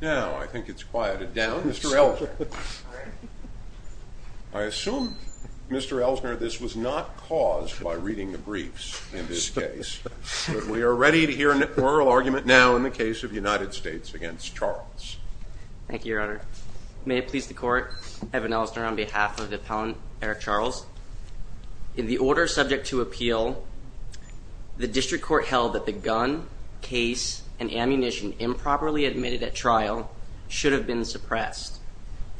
Now, I think it's quieted down. I assume, Mr. Ellsner, this was not caused by reading the briefs in this case, but we are ready to hear an oral argument now in the case of United States v. Charles. Thank you, Your Honor. May it please the Court, Evan Ellsner, on behalf of the appellant, Erick Charles. In the order subject to appeal, the district court held that the gun, case, and ammunition improperly admitted at trial should have been suppressed,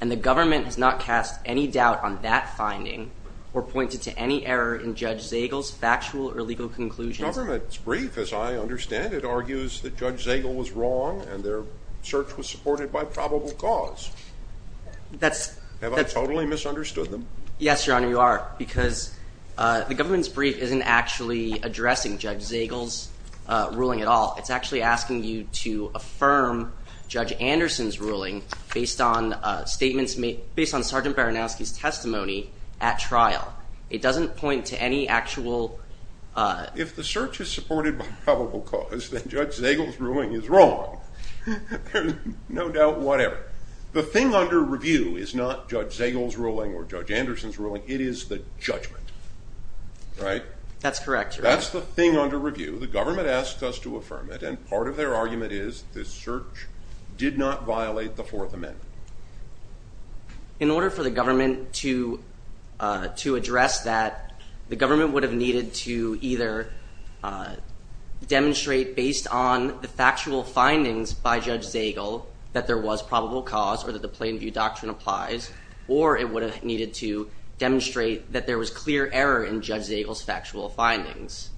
and the government has not cast any doubt on that finding or pointed to any error in Judge Zagel's factual or legal conclusions. The government's brief, as I understand it, argues that Judge Zagel was wrong and their search was supported by probable cause. Have I totally misunderstood them? Yes, Your Honor, you are, because the government's brief isn't actually addressing Judge Zagel's ruling at all. It's actually asking you to affirm Judge Anderson's ruling based on statements made – based on Sergeant Baranowski's testimony at trial. It doesn't point to any actual – If the search is supported by probable cause, then Judge Zagel's ruling is wrong. There's no doubt whatever. The thing under review is not Judge Zagel's ruling or Judge Anderson's ruling. It is the judgment, right? That's correct, Your Honor. That's the thing under review. The government asks us to affirm it, and part of their argument is the search did not violate the Fourth Amendment. In order for the government to address that, the government would have needed to either demonstrate based on the factual findings by Judge Zagel that there was probable cause or that the Plain View Doctrine applies, or it would have needed to demonstrate that there was clear error in Judge Zagel's factual findings.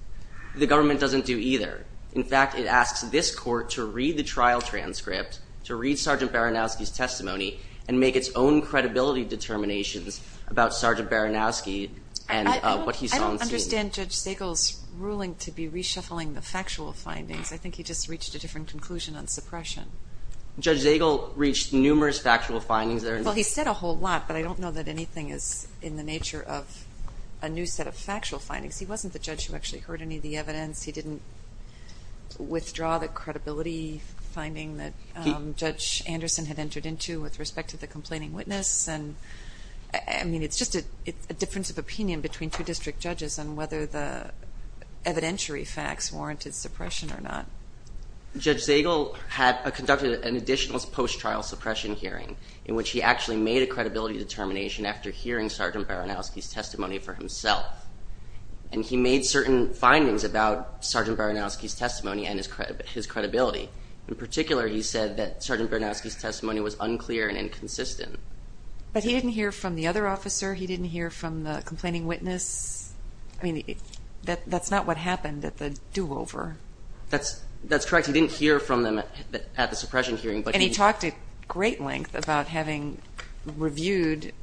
The government doesn't do either. In fact, it asks this Court to read the trial transcript, to read Sergeant Baranowski's testimony, and make its own credibility determinations about Sergeant Baranowski and what he saw and seen. I don't understand Judge Zagel's ruling to be reshuffling the factual findings. I think he just reached a different conclusion on suppression. Judge Zagel reached numerous factual findings there. Well, he said a whole lot, but I don't know that anything is in the nature of a new set of factual findings. He wasn't the judge who actually heard any of the evidence. He didn't withdraw the credibility finding that Judge Anderson had entered into with respect to the complaining witness. I mean, it's just a difference of opinion between two district judges on whether the evidentiary facts warranted suppression or not. Judge Zagel conducted an additional post-trial suppression hearing in which he actually made a credibility determination after hearing Sergeant Baranowski's testimony for himself. And he made certain findings about Sergeant Baranowski's testimony and his credibility. In particular, he said that Sergeant Baranowski's testimony was unclear and inconsistent. But he didn't hear from the other officer? He didn't hear from the complaining witness? I mean, that's not what happened at the do-over. That's correct. He didn't hear from them at the suppression hearing. And he talked at great length about having reviewed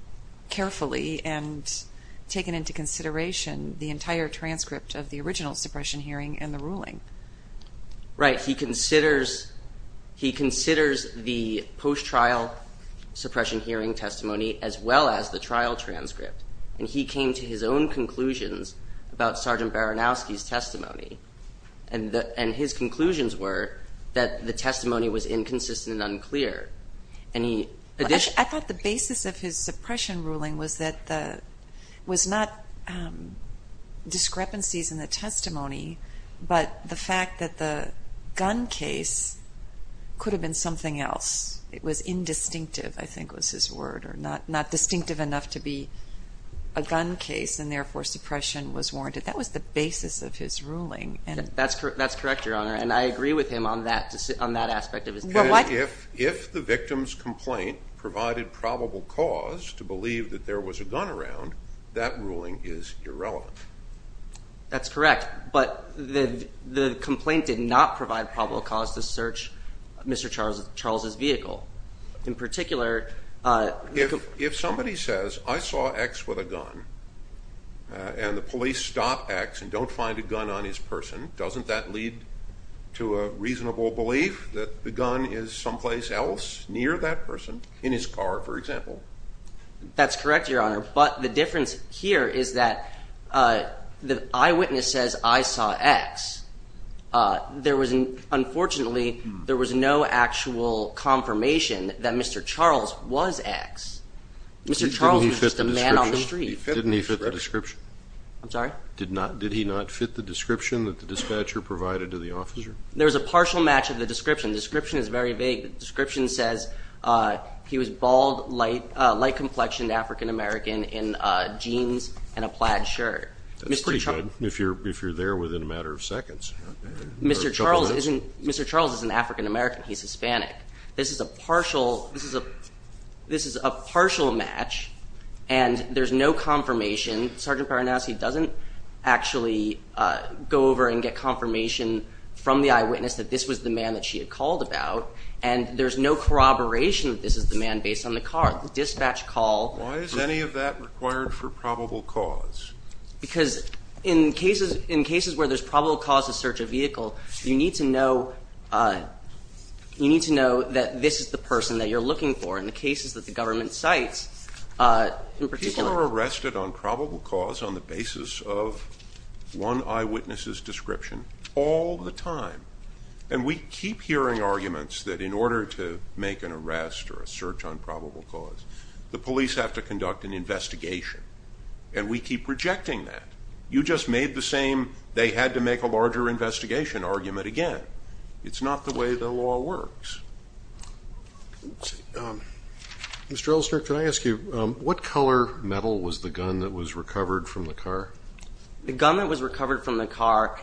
carefully and taken into consideration the entire transcript of the original suppression hearing and the ruling. Right. He considers the post-trial suppression hearing testimony as well as the trial transcript. And he came to his own conclusions about Sergeant Baranowski's testimony. And his conclusions were that the testimony was inconsistent and unclear. I thought the basis of his suppression ruling was not discrepancies in the testimony, but the fact that the gun case could have been something else. It was indistinctive, I think was his word, or not distinctive enough to be a gun case, and therefore suppression was warranted. That was the basis of his ruling. That's correct, Your Honor, and I agree with him on that aspect of his ruling. If the victim's complaint provided probable cause to believe that there was a gun around, that ruling is irrelevant. That's correct, but the complaint did not provide probable cause to search Mr. Charles's vehicle. In particular, if somebody says, I saw X with a gun, and the police stop X and don't find a gun on his person, doesn't that lead to a reasonable belief that the gun is someplace else, near that person, in his car, for example? That's correct, Your Honor, but the difference here is that the eyewitness says, I saw X. Unfortunately, there was no actual confirmation that Mr. Charles was X. Mr. Charles was just a man on the street. Didn't he fit the description? I'm sorry? Did he not fit the description that the dispatcher provided to the officer? There was a partial match of the description. The description is very vague. The description says he was bald, light complexioned, African-American, in jeans and a plaid shirt. That's pretty good if you're there within a matter of seconds. Mr. Charles isn't African-American. He's Hispanic. This is a partial match, and there's no confirmation. Sergeant Paranazzi doesn't actually go over and get confirmation from the eyewitness that this was the man that she had called about, and there's no corroboration that this is the man based on the car. The dispatch call. Why is any of that required for probable cause? Because in cases where there's probable cause to search a vehicle, you need to know that this is the person that you're looking for in the cases that the government cites, in particular. You are arrested on probable cause on the basis of one eyewitness's description all the time, and we keep hearing arguments that in order to make an arrest or a search on probable cause, the police have to conduct an investigation, and we keep rejecting that. You just made the same they had to make a larger investigation argument again. It's not the way the law works. Mr. Ellsner, can I ask you, what color metal was the gun that was recovered from the car? The gun that was recovered from the car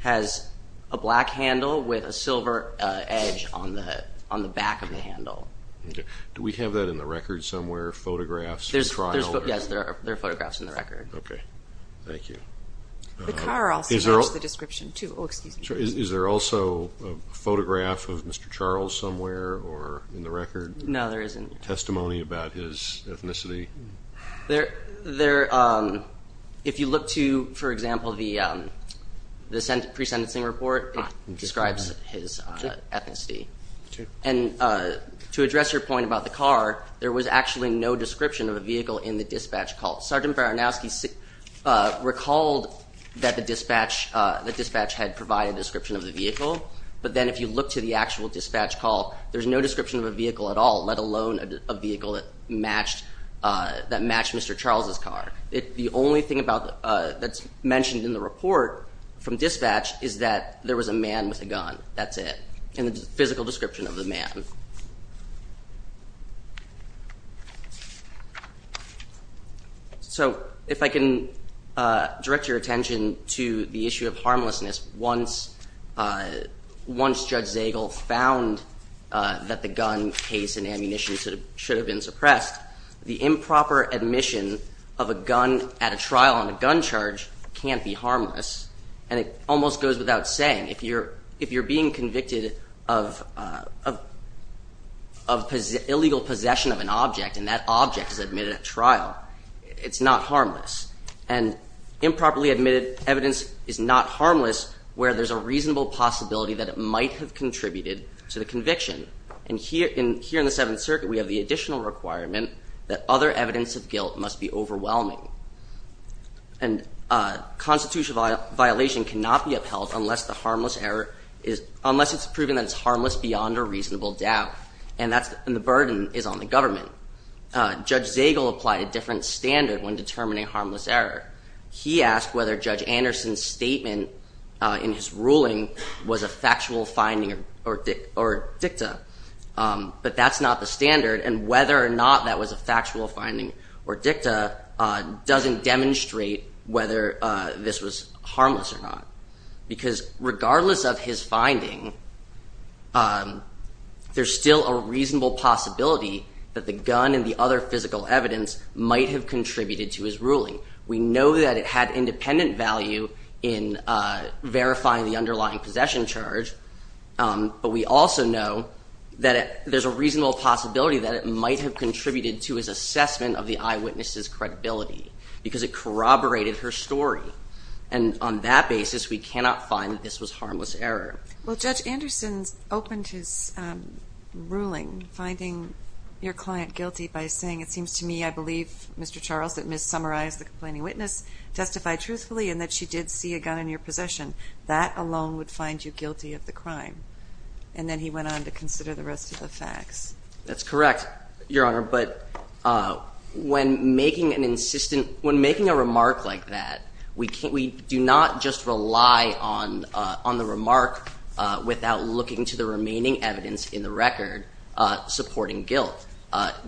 has a black handle with a silver edge on the back of the handle. Do we have that in the record somewhere, photographs? Yes, there are photographs in the record. Okay. Thank you. The car also matches the description, too. Is there also a photograph of Mr. Charles somewhere in the record? No, there isn't. Testimony about his ethnicity? If you look to, for example, the pre-sentencing report, it describes his ethnicity. And to address your point about the car, there was actually no description of a vehicle in the dispatch call. Sergeant Baranowski recalled that the dispatch had provided a description of the vehicle, but then if you look to the actual dispatch call, there's no description of a vehicle at all, let alone a vehicle that matched Mr. Charles' car. The only thing that's mentioned in the report from dispatch is that there was a man with a gun. That's it. And the physical description of the man. So if I can direct your attention to the issue of harmlessness, once Judge Zagel found that the gun case and ammunition should have been suppressed, the improper admission of a gun at a trial on a gun charge can't be harmless, and it almost goes without saying. If you're being convicted of illegal possession of an object and that object is admitted at trial, it's not harmless. And improperly admitted evidence is not harmless where there's a reasonable possibility that it might have contributed to the conviction. And here in the Seventh Circuit, we have the additional requirement that other evidence of guilt must be overwhelming. And a constitutional violation cannot be upheld unless it's proven that it's harmless beyond a reasonable doubt, and the burden is on the government. Judge Zagel applied a different standard when determining harmless error. He asked whether Judge Anderson's statement in his ruling was a factual finding or dicta, but that's not the standard, and whether or not that was a factual finding or dicta doesn't demonstrate whether this was harmless or not. Because regardless of his finding, there's still a reasonable possibility that the gun and the other physical evidence might have contributed to his ruling. We know that it had independent value in verifying the underlying possession charge, but we also know that there's a reasonable possibility that it might have contributed to his assessment of the eyewitness's credibility because it corroborated her story. And on that basis, we cannot find that this was harmless error. Well, Judge Anderson opened his ruling finding your client guilty by saying, it seems to me, I believe, Mr. Charles, that Ms. Summarized, the complaining witness, testified truthfully in that she did see a gun in your possession. That alone would find you guilty of the crime. And then he went on to consider the rest of the facts. That's correct, Your Honor, but when making an insistent, when making a remark like that, we do not just rely on the remark without looking to the remaining evidence in the record supporting guilt.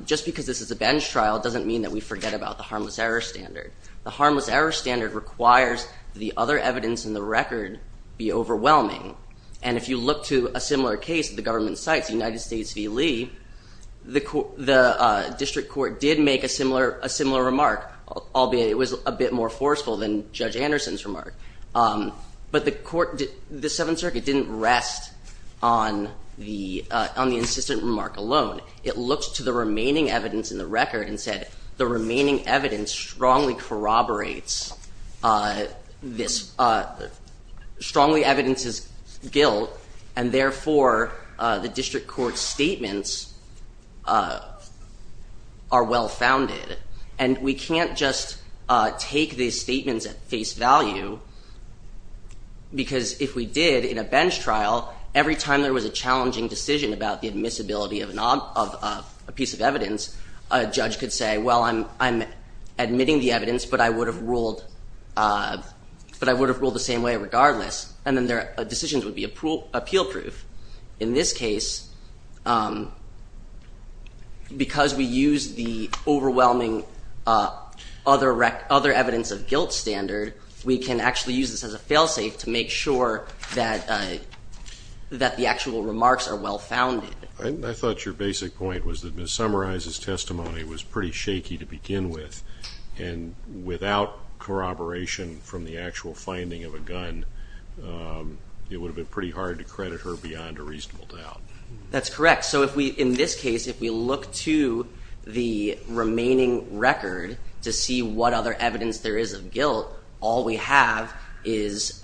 Just because this is a bench trial doesn't mean that we forget about the harmless error standard. The harmless error standard requires the other evidence in the record be overwhelming. And if you look to a similar case at the government sites, United States v. Lee, the district court did make a similar remark, albeit it was a bit more forceful than Judge Anderson's remark. But the court, the Seventh Circuit didn't rest on the insistent remark alone. It looked to the remaining evidence in the record and said, the remaining evidence strongly corroborates this, strongly evidences guilt, and therefore the district court's statements are well-founded. And we can't just take these statements at face value because if we did in a bench trial, every time there was a challenging decision about the admissibility of a piece of evidence, a judge could say, well, I'm admitting the evidence, but I would have ruled the same way regardless. And then their decisions would be appeal-proof. In this case, because we used the overwhelming other evidence of guilt standard, we can actually use this as a fail-safe to make sure that the actual remarks are well-founded. I thought your basic point was that Ms. Summarize's testimony was pretty shaky to begin with. And without corroboration from the actual finding of a gun, it would have been pretty hard to credit her beyond a reasonable doubt. That's correct. So in this case, if we look to the remaining record to see what other evidence there is of guilt, all we have is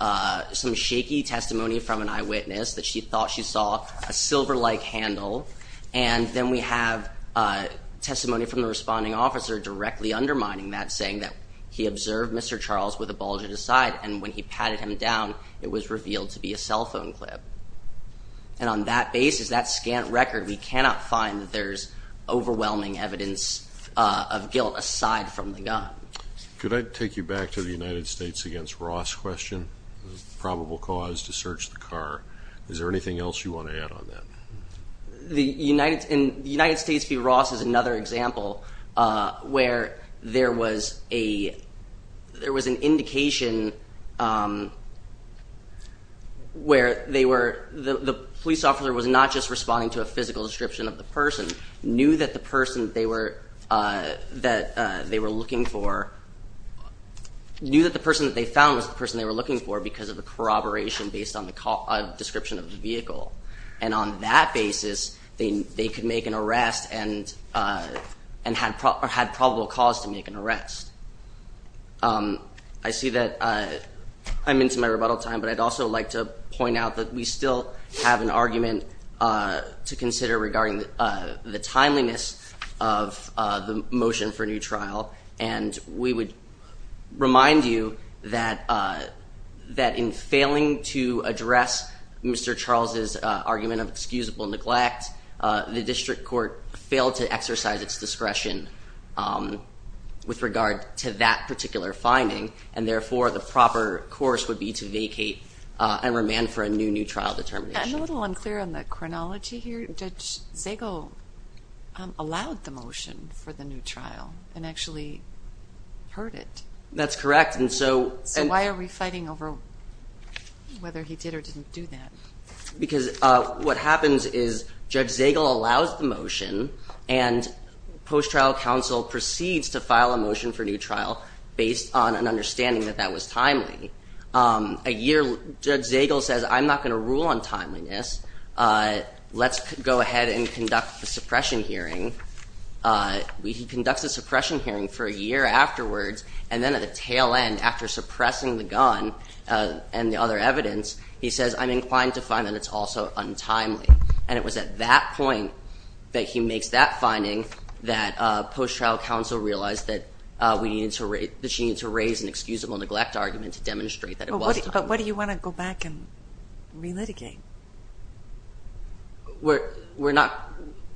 some shaky testimony from an eyewitness that she thought she saw a silver-like handle, and then we have testimony from the responding officer directly undermining that, saying that he observed Mr. Charles with a bulge at his side, and when he patted him down, it was revealed to be a cell phone clip. And on that basis, that scant record, we cannot find that there's overwhelming evidence of guilt aside from the gun. Could I take you back to the United States v. Ross question, probable cause to search the car? Is there anything else you want to add on that? The United States v. Ross is another example where there was an indication where the police officer was not just responding to a physical description of the person, knew that the person that they found was the person they were looking for because of the corroboration based on the description of the vehicle. And on that basis, they could make an arrest and had probable cause to make an arrest. I see that I'm into my rebuttal time, but I'd also like to point out that we still have an argument to consider regarding the timeliness of the motion for new trial, and we would remind you that in failing to address Mr. Charles's argument of excusable neglect, the district court failed to exercise its discretion with regard to that particular finding, and therefore the proper course would be to vacate and remand for a new new trial determination. I'm a little unclear on the chronology here. Judge Zago allowed the motion for the new trial and actually heard it. That's correct. So why are we fighting over whether he did or didn't do that? Because what happens is Judge Zago allows the motion, and post-trial counsel proceeds to file a motion for new trial based on an understanding that that was timely. A year, Judge Zago says, I'm not going to rule on timeliness. Let's go ahead and conduct a suppression hearing. He conducts a suppression hearing for a year afterwards, and then at the tail end after suppressing the gun and the other evidence, he says, I'm inclined to find that it's also untimely. And it was at that point that he makes that finding that post-trial counsel realized that she needed to raise an excusable neglect argument to demonstrate that it was timely. But what do you want to go back and re-litigate? We're not.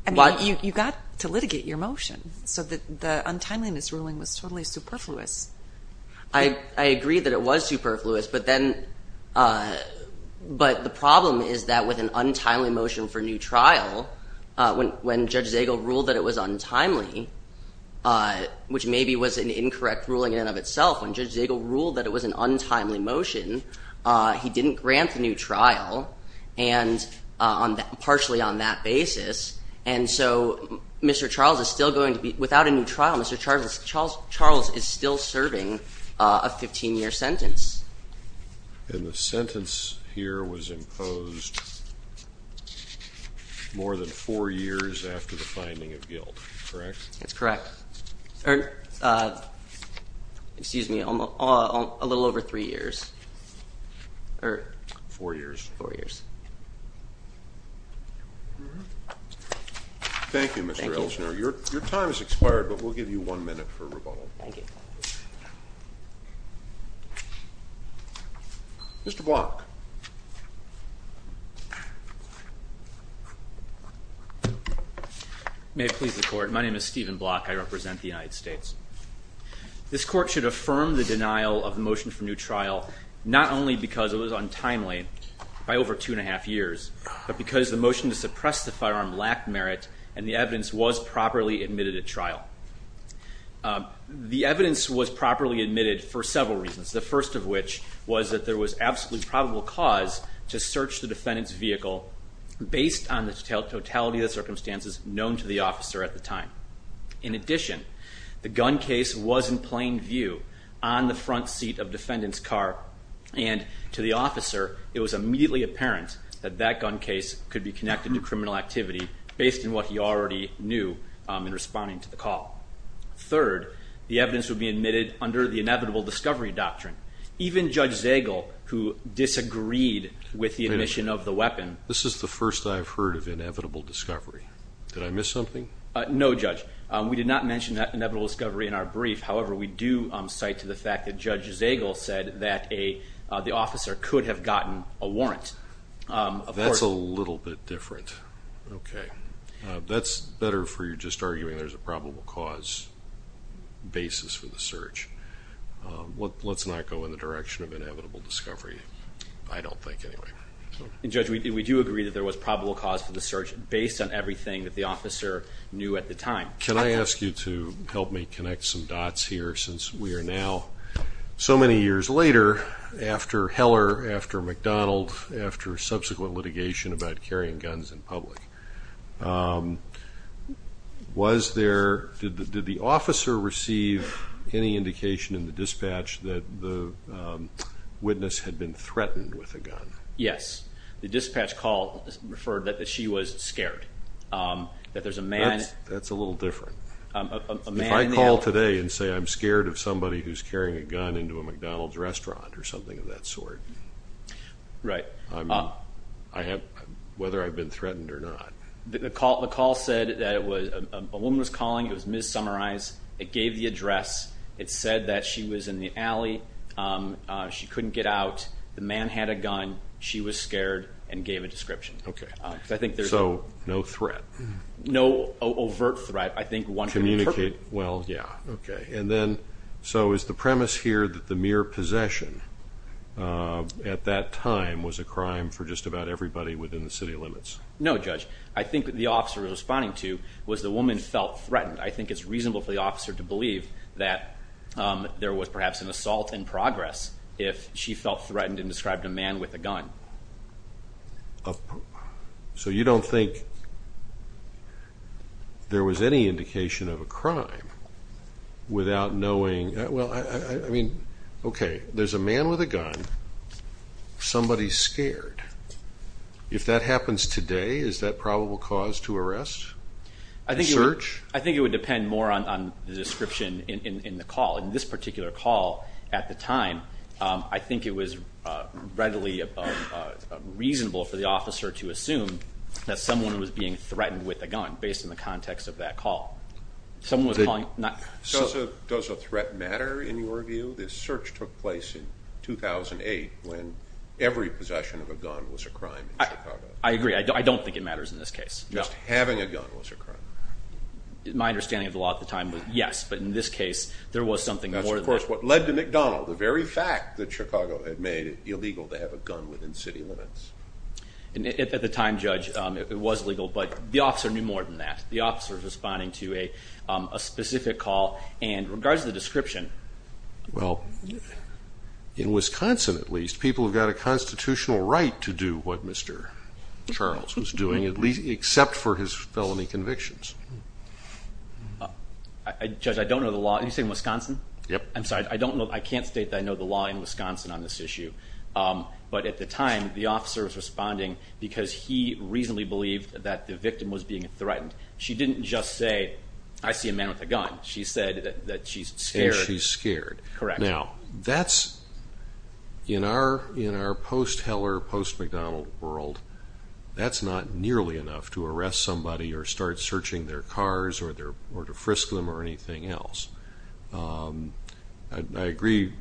I mean, you got to litigate your motion, so the untimeliness ruling was totally superfluous. I agree that it was superfluous, but the problem is that with an untimely motion for new trial, when Judge Zago ruled that it was untimely, which maybe was an incorrect ruling in and of itself, when Judge Zago ruled that it was an untimely motion, he didn't grant the new trial partially on that basis. And so Mr. Charles is still going to be without a new trial. Mr. Charles is still serving a 15-year sentence. And the sentence here was imposed more than four years after the finding of guilt, correct? That's correct. Excuse me, a little over three years. Four years. Thank you, Mr. Elshner. Your time has expired, but we'll give you one minute for rebuttal. Thank you. Mr. Block. May it please the Court, my name is Stephen Block. I represent the United States. This Court should affirm the denial of the motion for new trial not only because it was untimely, by over two and a half years, but because the motion to suppress the firearm lacked merit and the evidence was properly admitted at trial. The evidence was properly admitted for several reasons, the first of which was that there was absolutely probable cause to search the defendant's vehicle based on the totality of the circumstances known to the officer at the time. In addition, the gun case was in plain view on the front seat of defendant's car and to the officer it was immediately apparent that that gun case could be connected to criminal activity based on what he already knew in responding to the call. Third, the evidence would be admitted under the inevitable discovery doctrine. Even Judge Zagel, who disagreed with the admission of the weapon. This is the first I've heard of inevitable discovery. Did I miss something? No, Judge. We did not mention that inevitable discovery in our brief. However, we do cite to the fact that Judge Zagel said that the officer could have gotten a warrant. That's a little bit different. Okay. That's better for you just arguing there's a probable cause basis for the search. Let's not go in the direction of inevitable discovery, I don't think, anyway. Judge, we do agree that there was probable cause for the search based on everything that the officer knew at the time. Can I ask you to help me connect some dots here? Since we are now so many years later after Heller, after McDonald, after subsequent litigation about carrying guns in public, did the officer receive any indication in the dispatch that the witness had been threatened with a gun? Yes. The dispatch called and referred that she was scared. That there's a man. That's a little different. If I call today and say I'm scared of somebody who's carrying a gun into a McDonald's restaurant or something of that sort, whether I've been threatened or not. The call said that a woman was calling. It was Ms. Summerize. It gave the address. It said that she was in the alley. She couldn't get out. The man had a gun. She was scared and gave a description. Okay. So no threat? No overt threat. I think one could interpret. Communicate. Well, yeah. Okay. And then so is the premise here that the mere possession at that time was a crime for just about everybody within the city limits? No, Judge. I think what the officer was responding to was the woman felt threatened. I think it's reasonable for the officer to believe that there was perhaps an assault in progress if she felt threatened and described a man with a gun. So you don't think there was any indication of a crime without knowing? Well, I mean, okay, there's a man with a gun. Somebody's scared. If that happens today, is that probable cause to arrest? Search? I think it would depend more on the description in the call. In this particular call at the time, I think it was readily reasonable for the officer to assume that someone was being threatened with a gun based on the context of that call. Does a threat matter in your view? This search took place in 2008 when every possession of a gun was a crime in Chicago. I agree. I don't think it matters in this case. Just having a gun was a crime. My understanding of the law at the time was yes, but in this case, there was something more than that. That's, of course, what led to McDonald, the very fact that Chicago had made it illegal to have a gun within city limits. At the time, Judge, it was legal, but the officer knew more than that. The officer was responding to a specific call. And in regards to the description. Well, in Wisconsin, at least, people have got a constitutional right to do what Mr. Charles was doing, except for his felony convictions. Judge, I don't know the law. Are you saying Wisconsin? Yep. I'm sorry. I can't state that I know the law in Wisconsin on this issue. But at the time, the officer was responding because he reasonably believed that the victim was being threatened. She didn't just say, I see a man with a gun. She said that she's scared. And she's scared. Correct. Now, that's, in our post-Heller, post-McDonald world, that's not nearly enough to arrest somebody or start searching their cars or to frisk them or anything else. I agree,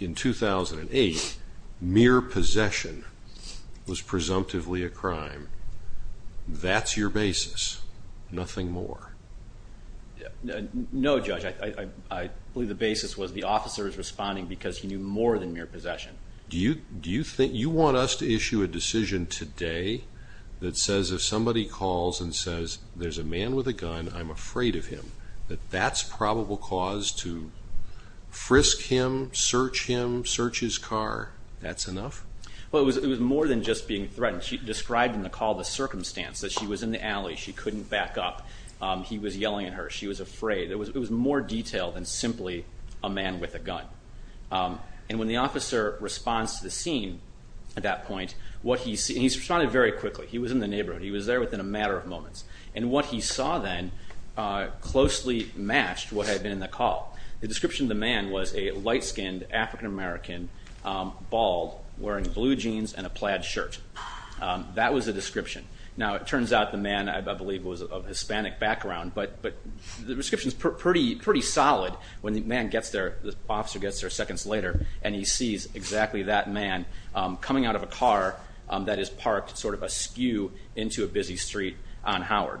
in 2008, mere possession was presumptively a crime. That's your basis. Nothing more. No, Judge. I believe the basis was the officer is responding because he knew more than mere possession. Do you want us to issue a decision today that says if somebody calls and says, there's a man with a gun, I'm afraid of him, that that's probable cause to frisk him, search him, search his car, that's enough? Well, it was more than just being threatened. She described in the call the circumstance, that she was in the alley. She couldn't back up. He was yelling at her. She was afraid. It was more detail than simply a man with a gun. And when the officer responds to the scene at that point, what he sees, and he responded very quickly, he was in the neighborhood. He was there within a matter of moments. And what he saw then closely matched what had been in the call. The description of the man was a light-skinned African-American, bald, wearing blue jeans and a plaid shirt. That was the description. Now, it turns out the man, I believe, was of Hispanic background, but the description is pretty solid when the officer gets there seconds later and he sees exactly that man coming out of a car that is parked sort of askew into a busy street on Howard.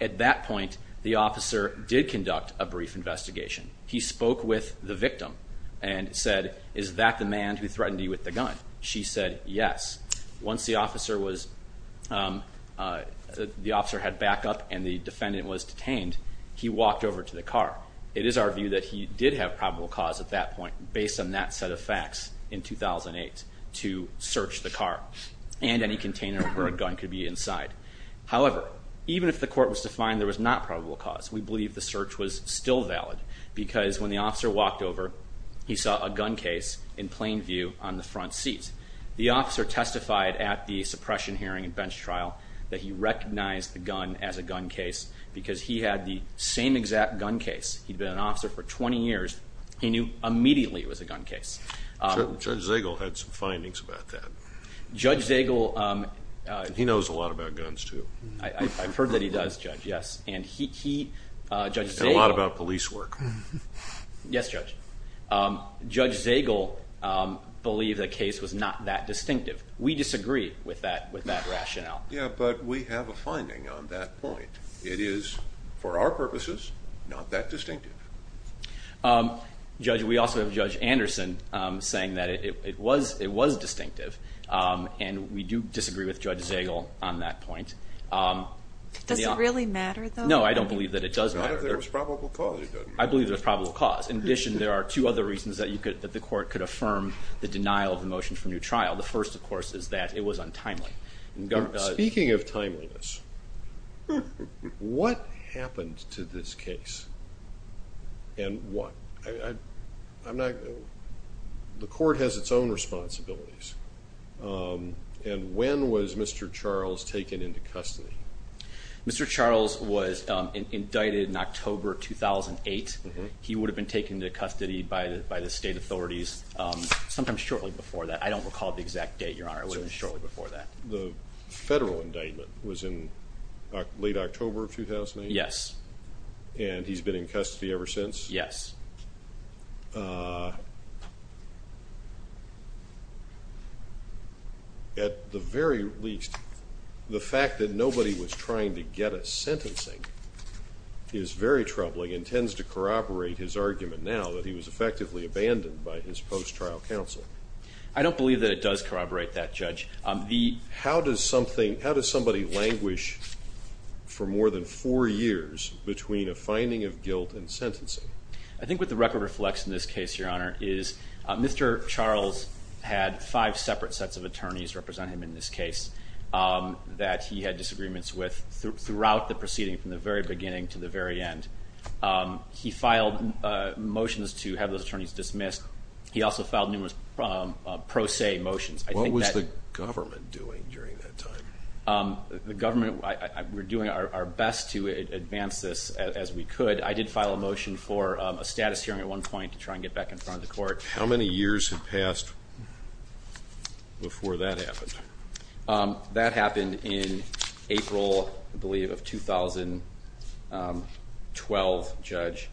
At that point, the officer did conduct a brief investigation. He spoke with the victim and said, is that the man who threatened you with the gun? She said, yes. Once the officer had backup and the defendant was detained, he walked over to the car. It is our view that he did have probable cause at that point based on that set of facts in 2008 to search the car and any container where a gun could be inside. However, even if the court was to find there was not probable cause, we believe the search was still valid because when the officer walked over, he saw a gun case in plain view on the front seat. The officer testified at the suppression hearing and bench trial that he recognized the gun as a gun case because he had the same exact gun case. He had been an officer for 20 years. He knew immediately it was a gun case. Judge Zagel had some findings about that. Judge Zagel... He knows a lot about guns, too. I've heard that he does, Judge, yes. And a lot about police work. Yes, Judge. Judge Zagel believed the case was not that distinctive. We disagree with that rationale. Yeah, but we have a finding on that point. It is, for our purposes, not that distinctive. Judge, we also have Judge Anderson saying that it was distinctive, and we do disagree with Judge Zagel on that point. Does it really matter, though? No, I don't believe that it does matter. Not if there was probable cause, it doesn't matter. I believe there's probable cause. In addition, there are two other reasons that the court could affirm the denial of the motion for new trial. The first, of course, is that it was untimely. Speaking of timeliness, what happened to this case and why? The court has its own responsibilities. And when was Mr. Charles taken into custody? Mr. Charles was indicted in October 2008. He would have been taken into custody by the state authorities sometime shortly before that. I don't recall the exact date, Your Honor. It would have been shortly before that. The federal indictment was in late October of 2008? Yes. And he's been in custody ever since? Yes. At the very least, the fact that nobody was trying to get a sentencing is very troubling and tends to corroborate his argument now that he was effectively abandoned by his post-trial counsel. I don't believe that it does corroborate that, Judge. How does somebody languish for more than four years between a finding of guilt and sentencing? I think what the record reflects in this case, Your Honor, is Mr. Charles had five separate sets of attorneys representing him in this case that he had disagreements with throughout the proceeding from the very beginning to the very end. He filed motions to have those attorneys dismissed. He also filed numerous pro se motions. What was the government doing during that time? The government, we're doing our best to advance this as we could. I did file a motion for a status hearing at one point to try and get back in front of the court. How many years had passed before that happened? That happened in April, I believe, of 2012, Judge.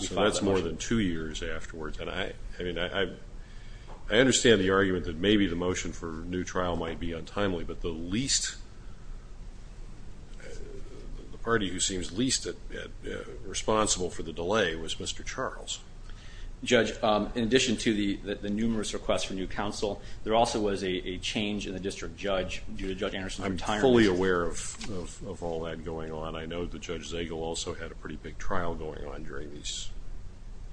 So that's more than two years afterwards. And I understand the argument that maybe the motion for a new trial might be untimely, but the least, the party who seems least responsible for the delay was Mr. Charles. Judge, in addition to the numerous requests for new counsel, there also was a change in the district judge due to Judge Anderson's retirement. I'm fully aware of all that going on. I know that Judge Zagel also had a pretty big trial going on during these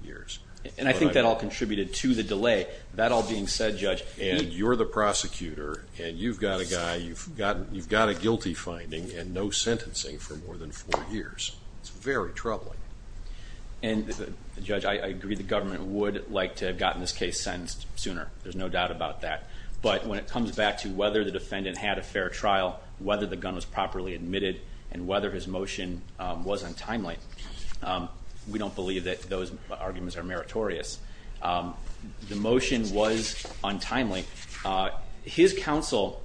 years. And I think that all contributed to the delay. That all being said, Judge, you're the prosecutor, and you've got a guy, you've got a guilty finding and no sentencing for more than four years. It's very troubling. And, Judge, I agree the government would like to have gotten this case sentenced sooner. There's no doubt about that. But when it comes back to whether the defendant had a fair trial, whether the gun was properly admitted, and whether his motion was untimely, we don't believe that those arguments are meritorious. The motion was untimely. His trial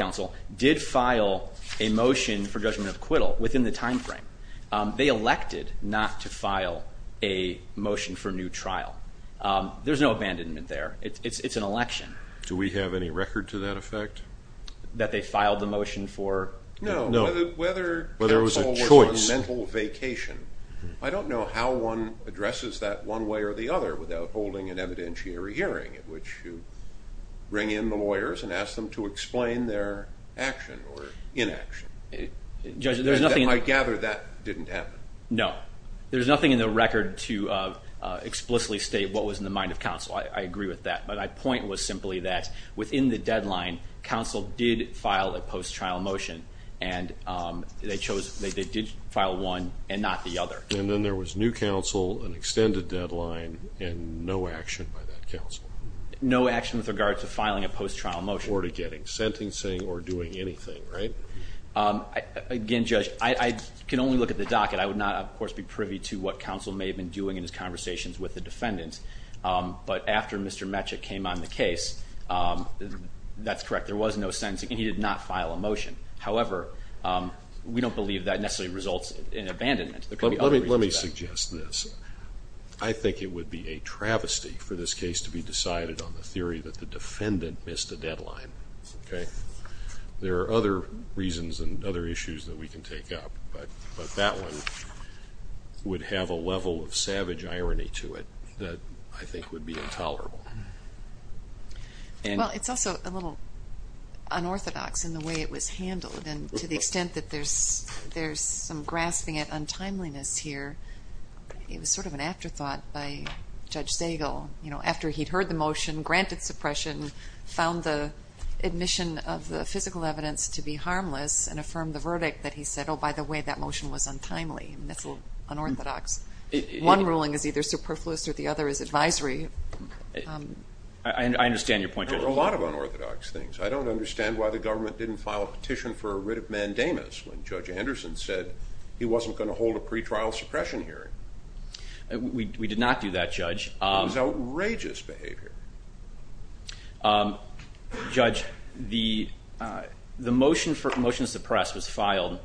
counsel did file a motion for judgment of acquittal within the time frame. They elected not to file a motion for new trial. There's no abandonment there. It's an election. Do we have any record to that effect? That they filed the motion for? No. Whether counsel was on a mental vacation, I don't know how one addresses that one way or the other without holding an evidentiary hearing in which you bring in the lawyers and ask them to explain their action or inaction. Judge, there's nothing in the record. I gather that didn't happen. No. There's nothing in the record to explicitly state what was in the mind of counsel. I agree with that. But my point was simply that within the deadline, counsel did file a post-trial motion, and they did file one and not the other. And then there was new counsel, an extended deadline, and no action by that counsel. No action with regard to filing a post-trial motion. Or to getting sentencing or doing anything, right? Again, Judge, I can only look at the docket. I would not, of course, be privy to what counsel may have been doing in his conversations with the defendant. But after Mr. Metchik came on the case, that's correct. There was no sentencing, and he did not file a motion. However, we don't believe that necessarily results in abandonment. Let me suggest this. I think it would be a travesty for this case to be decided on the theory that the defendant missed a deadline. Okay? There are other reasons and other issues that we can take up, but that one would have a level of savage irony to it that I think would be intolerable. Well, it's also a little unorthodox in the way it was handled. And to the extent that there's some grasping at untimeliness here, it was sort of an afterthought by Judge Zagel. After he'd heard the motion, granted suppression, found the admission of the physical evidence to be harmless, and affirmed the verdict that he said, oh, by the way, that motion was untimely. That's unorthodox. One ruling is either superfluous or the other is advisory. I understand your point, Judge. There are a lot of unorthodox things. I don't understand why the government didn't file a petition for a writ of mandamus when Judge Anderson said he wasn't going to hold a pretrial suppression hearing. We did not do that, Judge. It was outrageous behavior. Judge, the motion to suppress was filed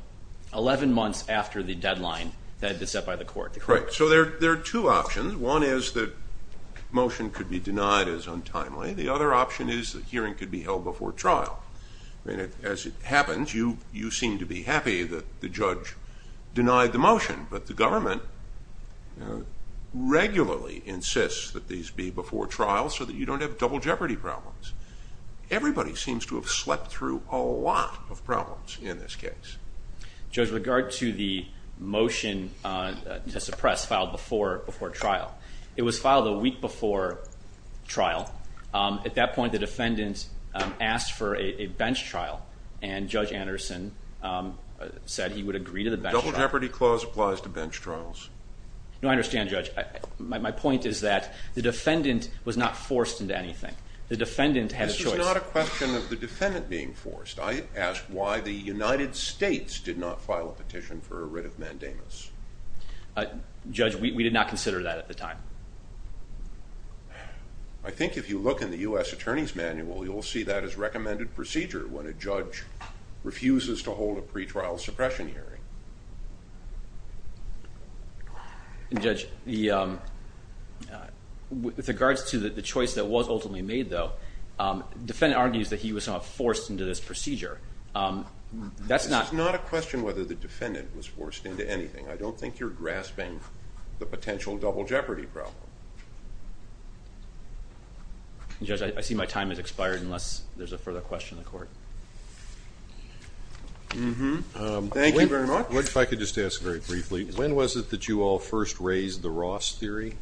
11 months after the deadline that had been set by the court. Right. So there are two options. One is that motion could be denied as untimely. The other option is the hearing could be held before trial. As it happens, you seem to be happy that the judge denied the motion, but the government regularly insists that these be before trial so that you don't have double jeopardy problems. Everybody seems to have slept through a lot of problems in this case. Judge, with regard to the motion to suppress filed before trial, it was filed a week before trial. At that point, the defendant asked for a bench trial, and Judge Anderson said he would agree to the bench trial. The double jeopardy clause applies to bench trials. No, I understand, Judge. My point is that the defendant was not forced into anything. The defendant had a choice. This is not a question of the defendant being forced. I asked why the United States did not file a petition for a writ of mandamus. Judge, we did not consider that at the time. I think if you look in the U.S. Attorney's Manual, you'll see that as recommended procedure when a judge refuses to hold a pretrial suppression hearing. Judge, with regards to the choice that was ultimately made, though, the defendant argues that he was not forced into this procedure. This is not a question whether the defendant was forced into anything. I don't think you're grasping the potential double jeopardy problem. Judge, I see my time has expired unless there's a further question in the court. Thank you very much. If I could just ask very briefly, when was it that you all first raised the Ross theory?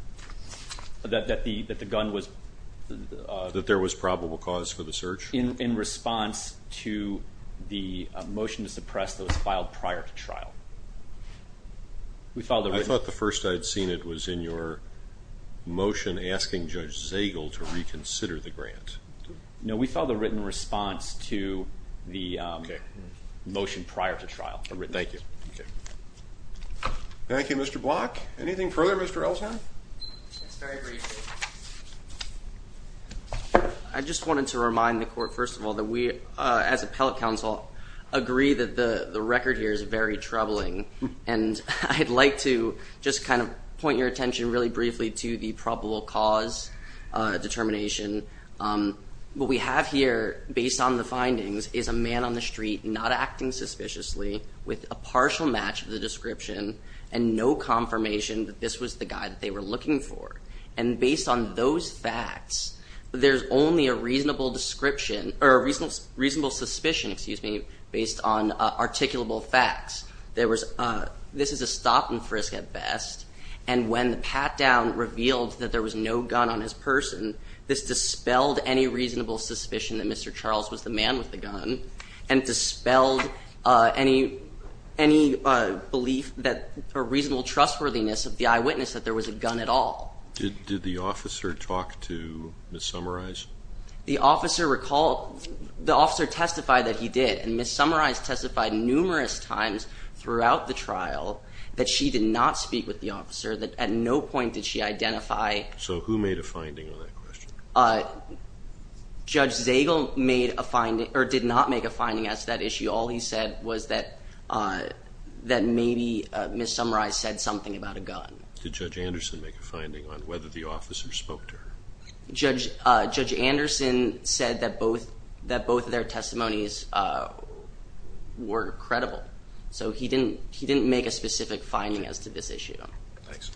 That the gun was- That there was probable cause for the search? In response to the motion to suppress that was filed prior to trial. I thought the first I'd seen it was in your motion asking Judge Zagel to reconsider the grant. No, we filed a written response to the motion prior to trial. Thank you. Thank you, Mr. Block. Anything further, Mr. Elsner? Yes, very briefly. I just wanted to remind the court, first of all, that we, as appellate counsel, agree that the record here is very troubling. And I'd like to just kind of point your attention really briefly to the probable cause determination. What we have here, based on the findings, is a man on the street not acting suspiciously with a partial match of the description and no confirmation that this was the guy that they were looking for. And based on those facts, there's only a reasonable description or a reasonable suspicion, excuse me, based on articulable facts. This is a stop and frisk at best. And when the pat-down revealed that there was no gun on his person, this dispelled any reasonable suspicion that Mr. Charles was the man with the gun. And it dispelled any belief or reasonable trustworthiness of the eyewitness that there was a gun at all. Did the officer talk to Ms. Summarize? The officer testified that he did. And Ms. Summarize testified numerous times throughout the trial that she did not speak with the officer, that at no point did she identify. So who made a finding on that question? Judge Zagel did not make a finding as to that issue. All he said was that maybe Ms. Summarize said something about a gun. Did Judge Anderson make a finding on whether the officer spoke to her? Judge Anderson said that both of their testimonies were credible. So he didn't make a specific finding as to this issue. Thanks.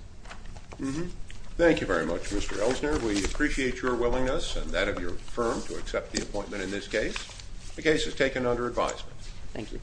Thank you very much, Mr. Elsner. We appreciate your willingness and that of your firm to accept the appointment in this case. The case is taken under advisement. Thank you.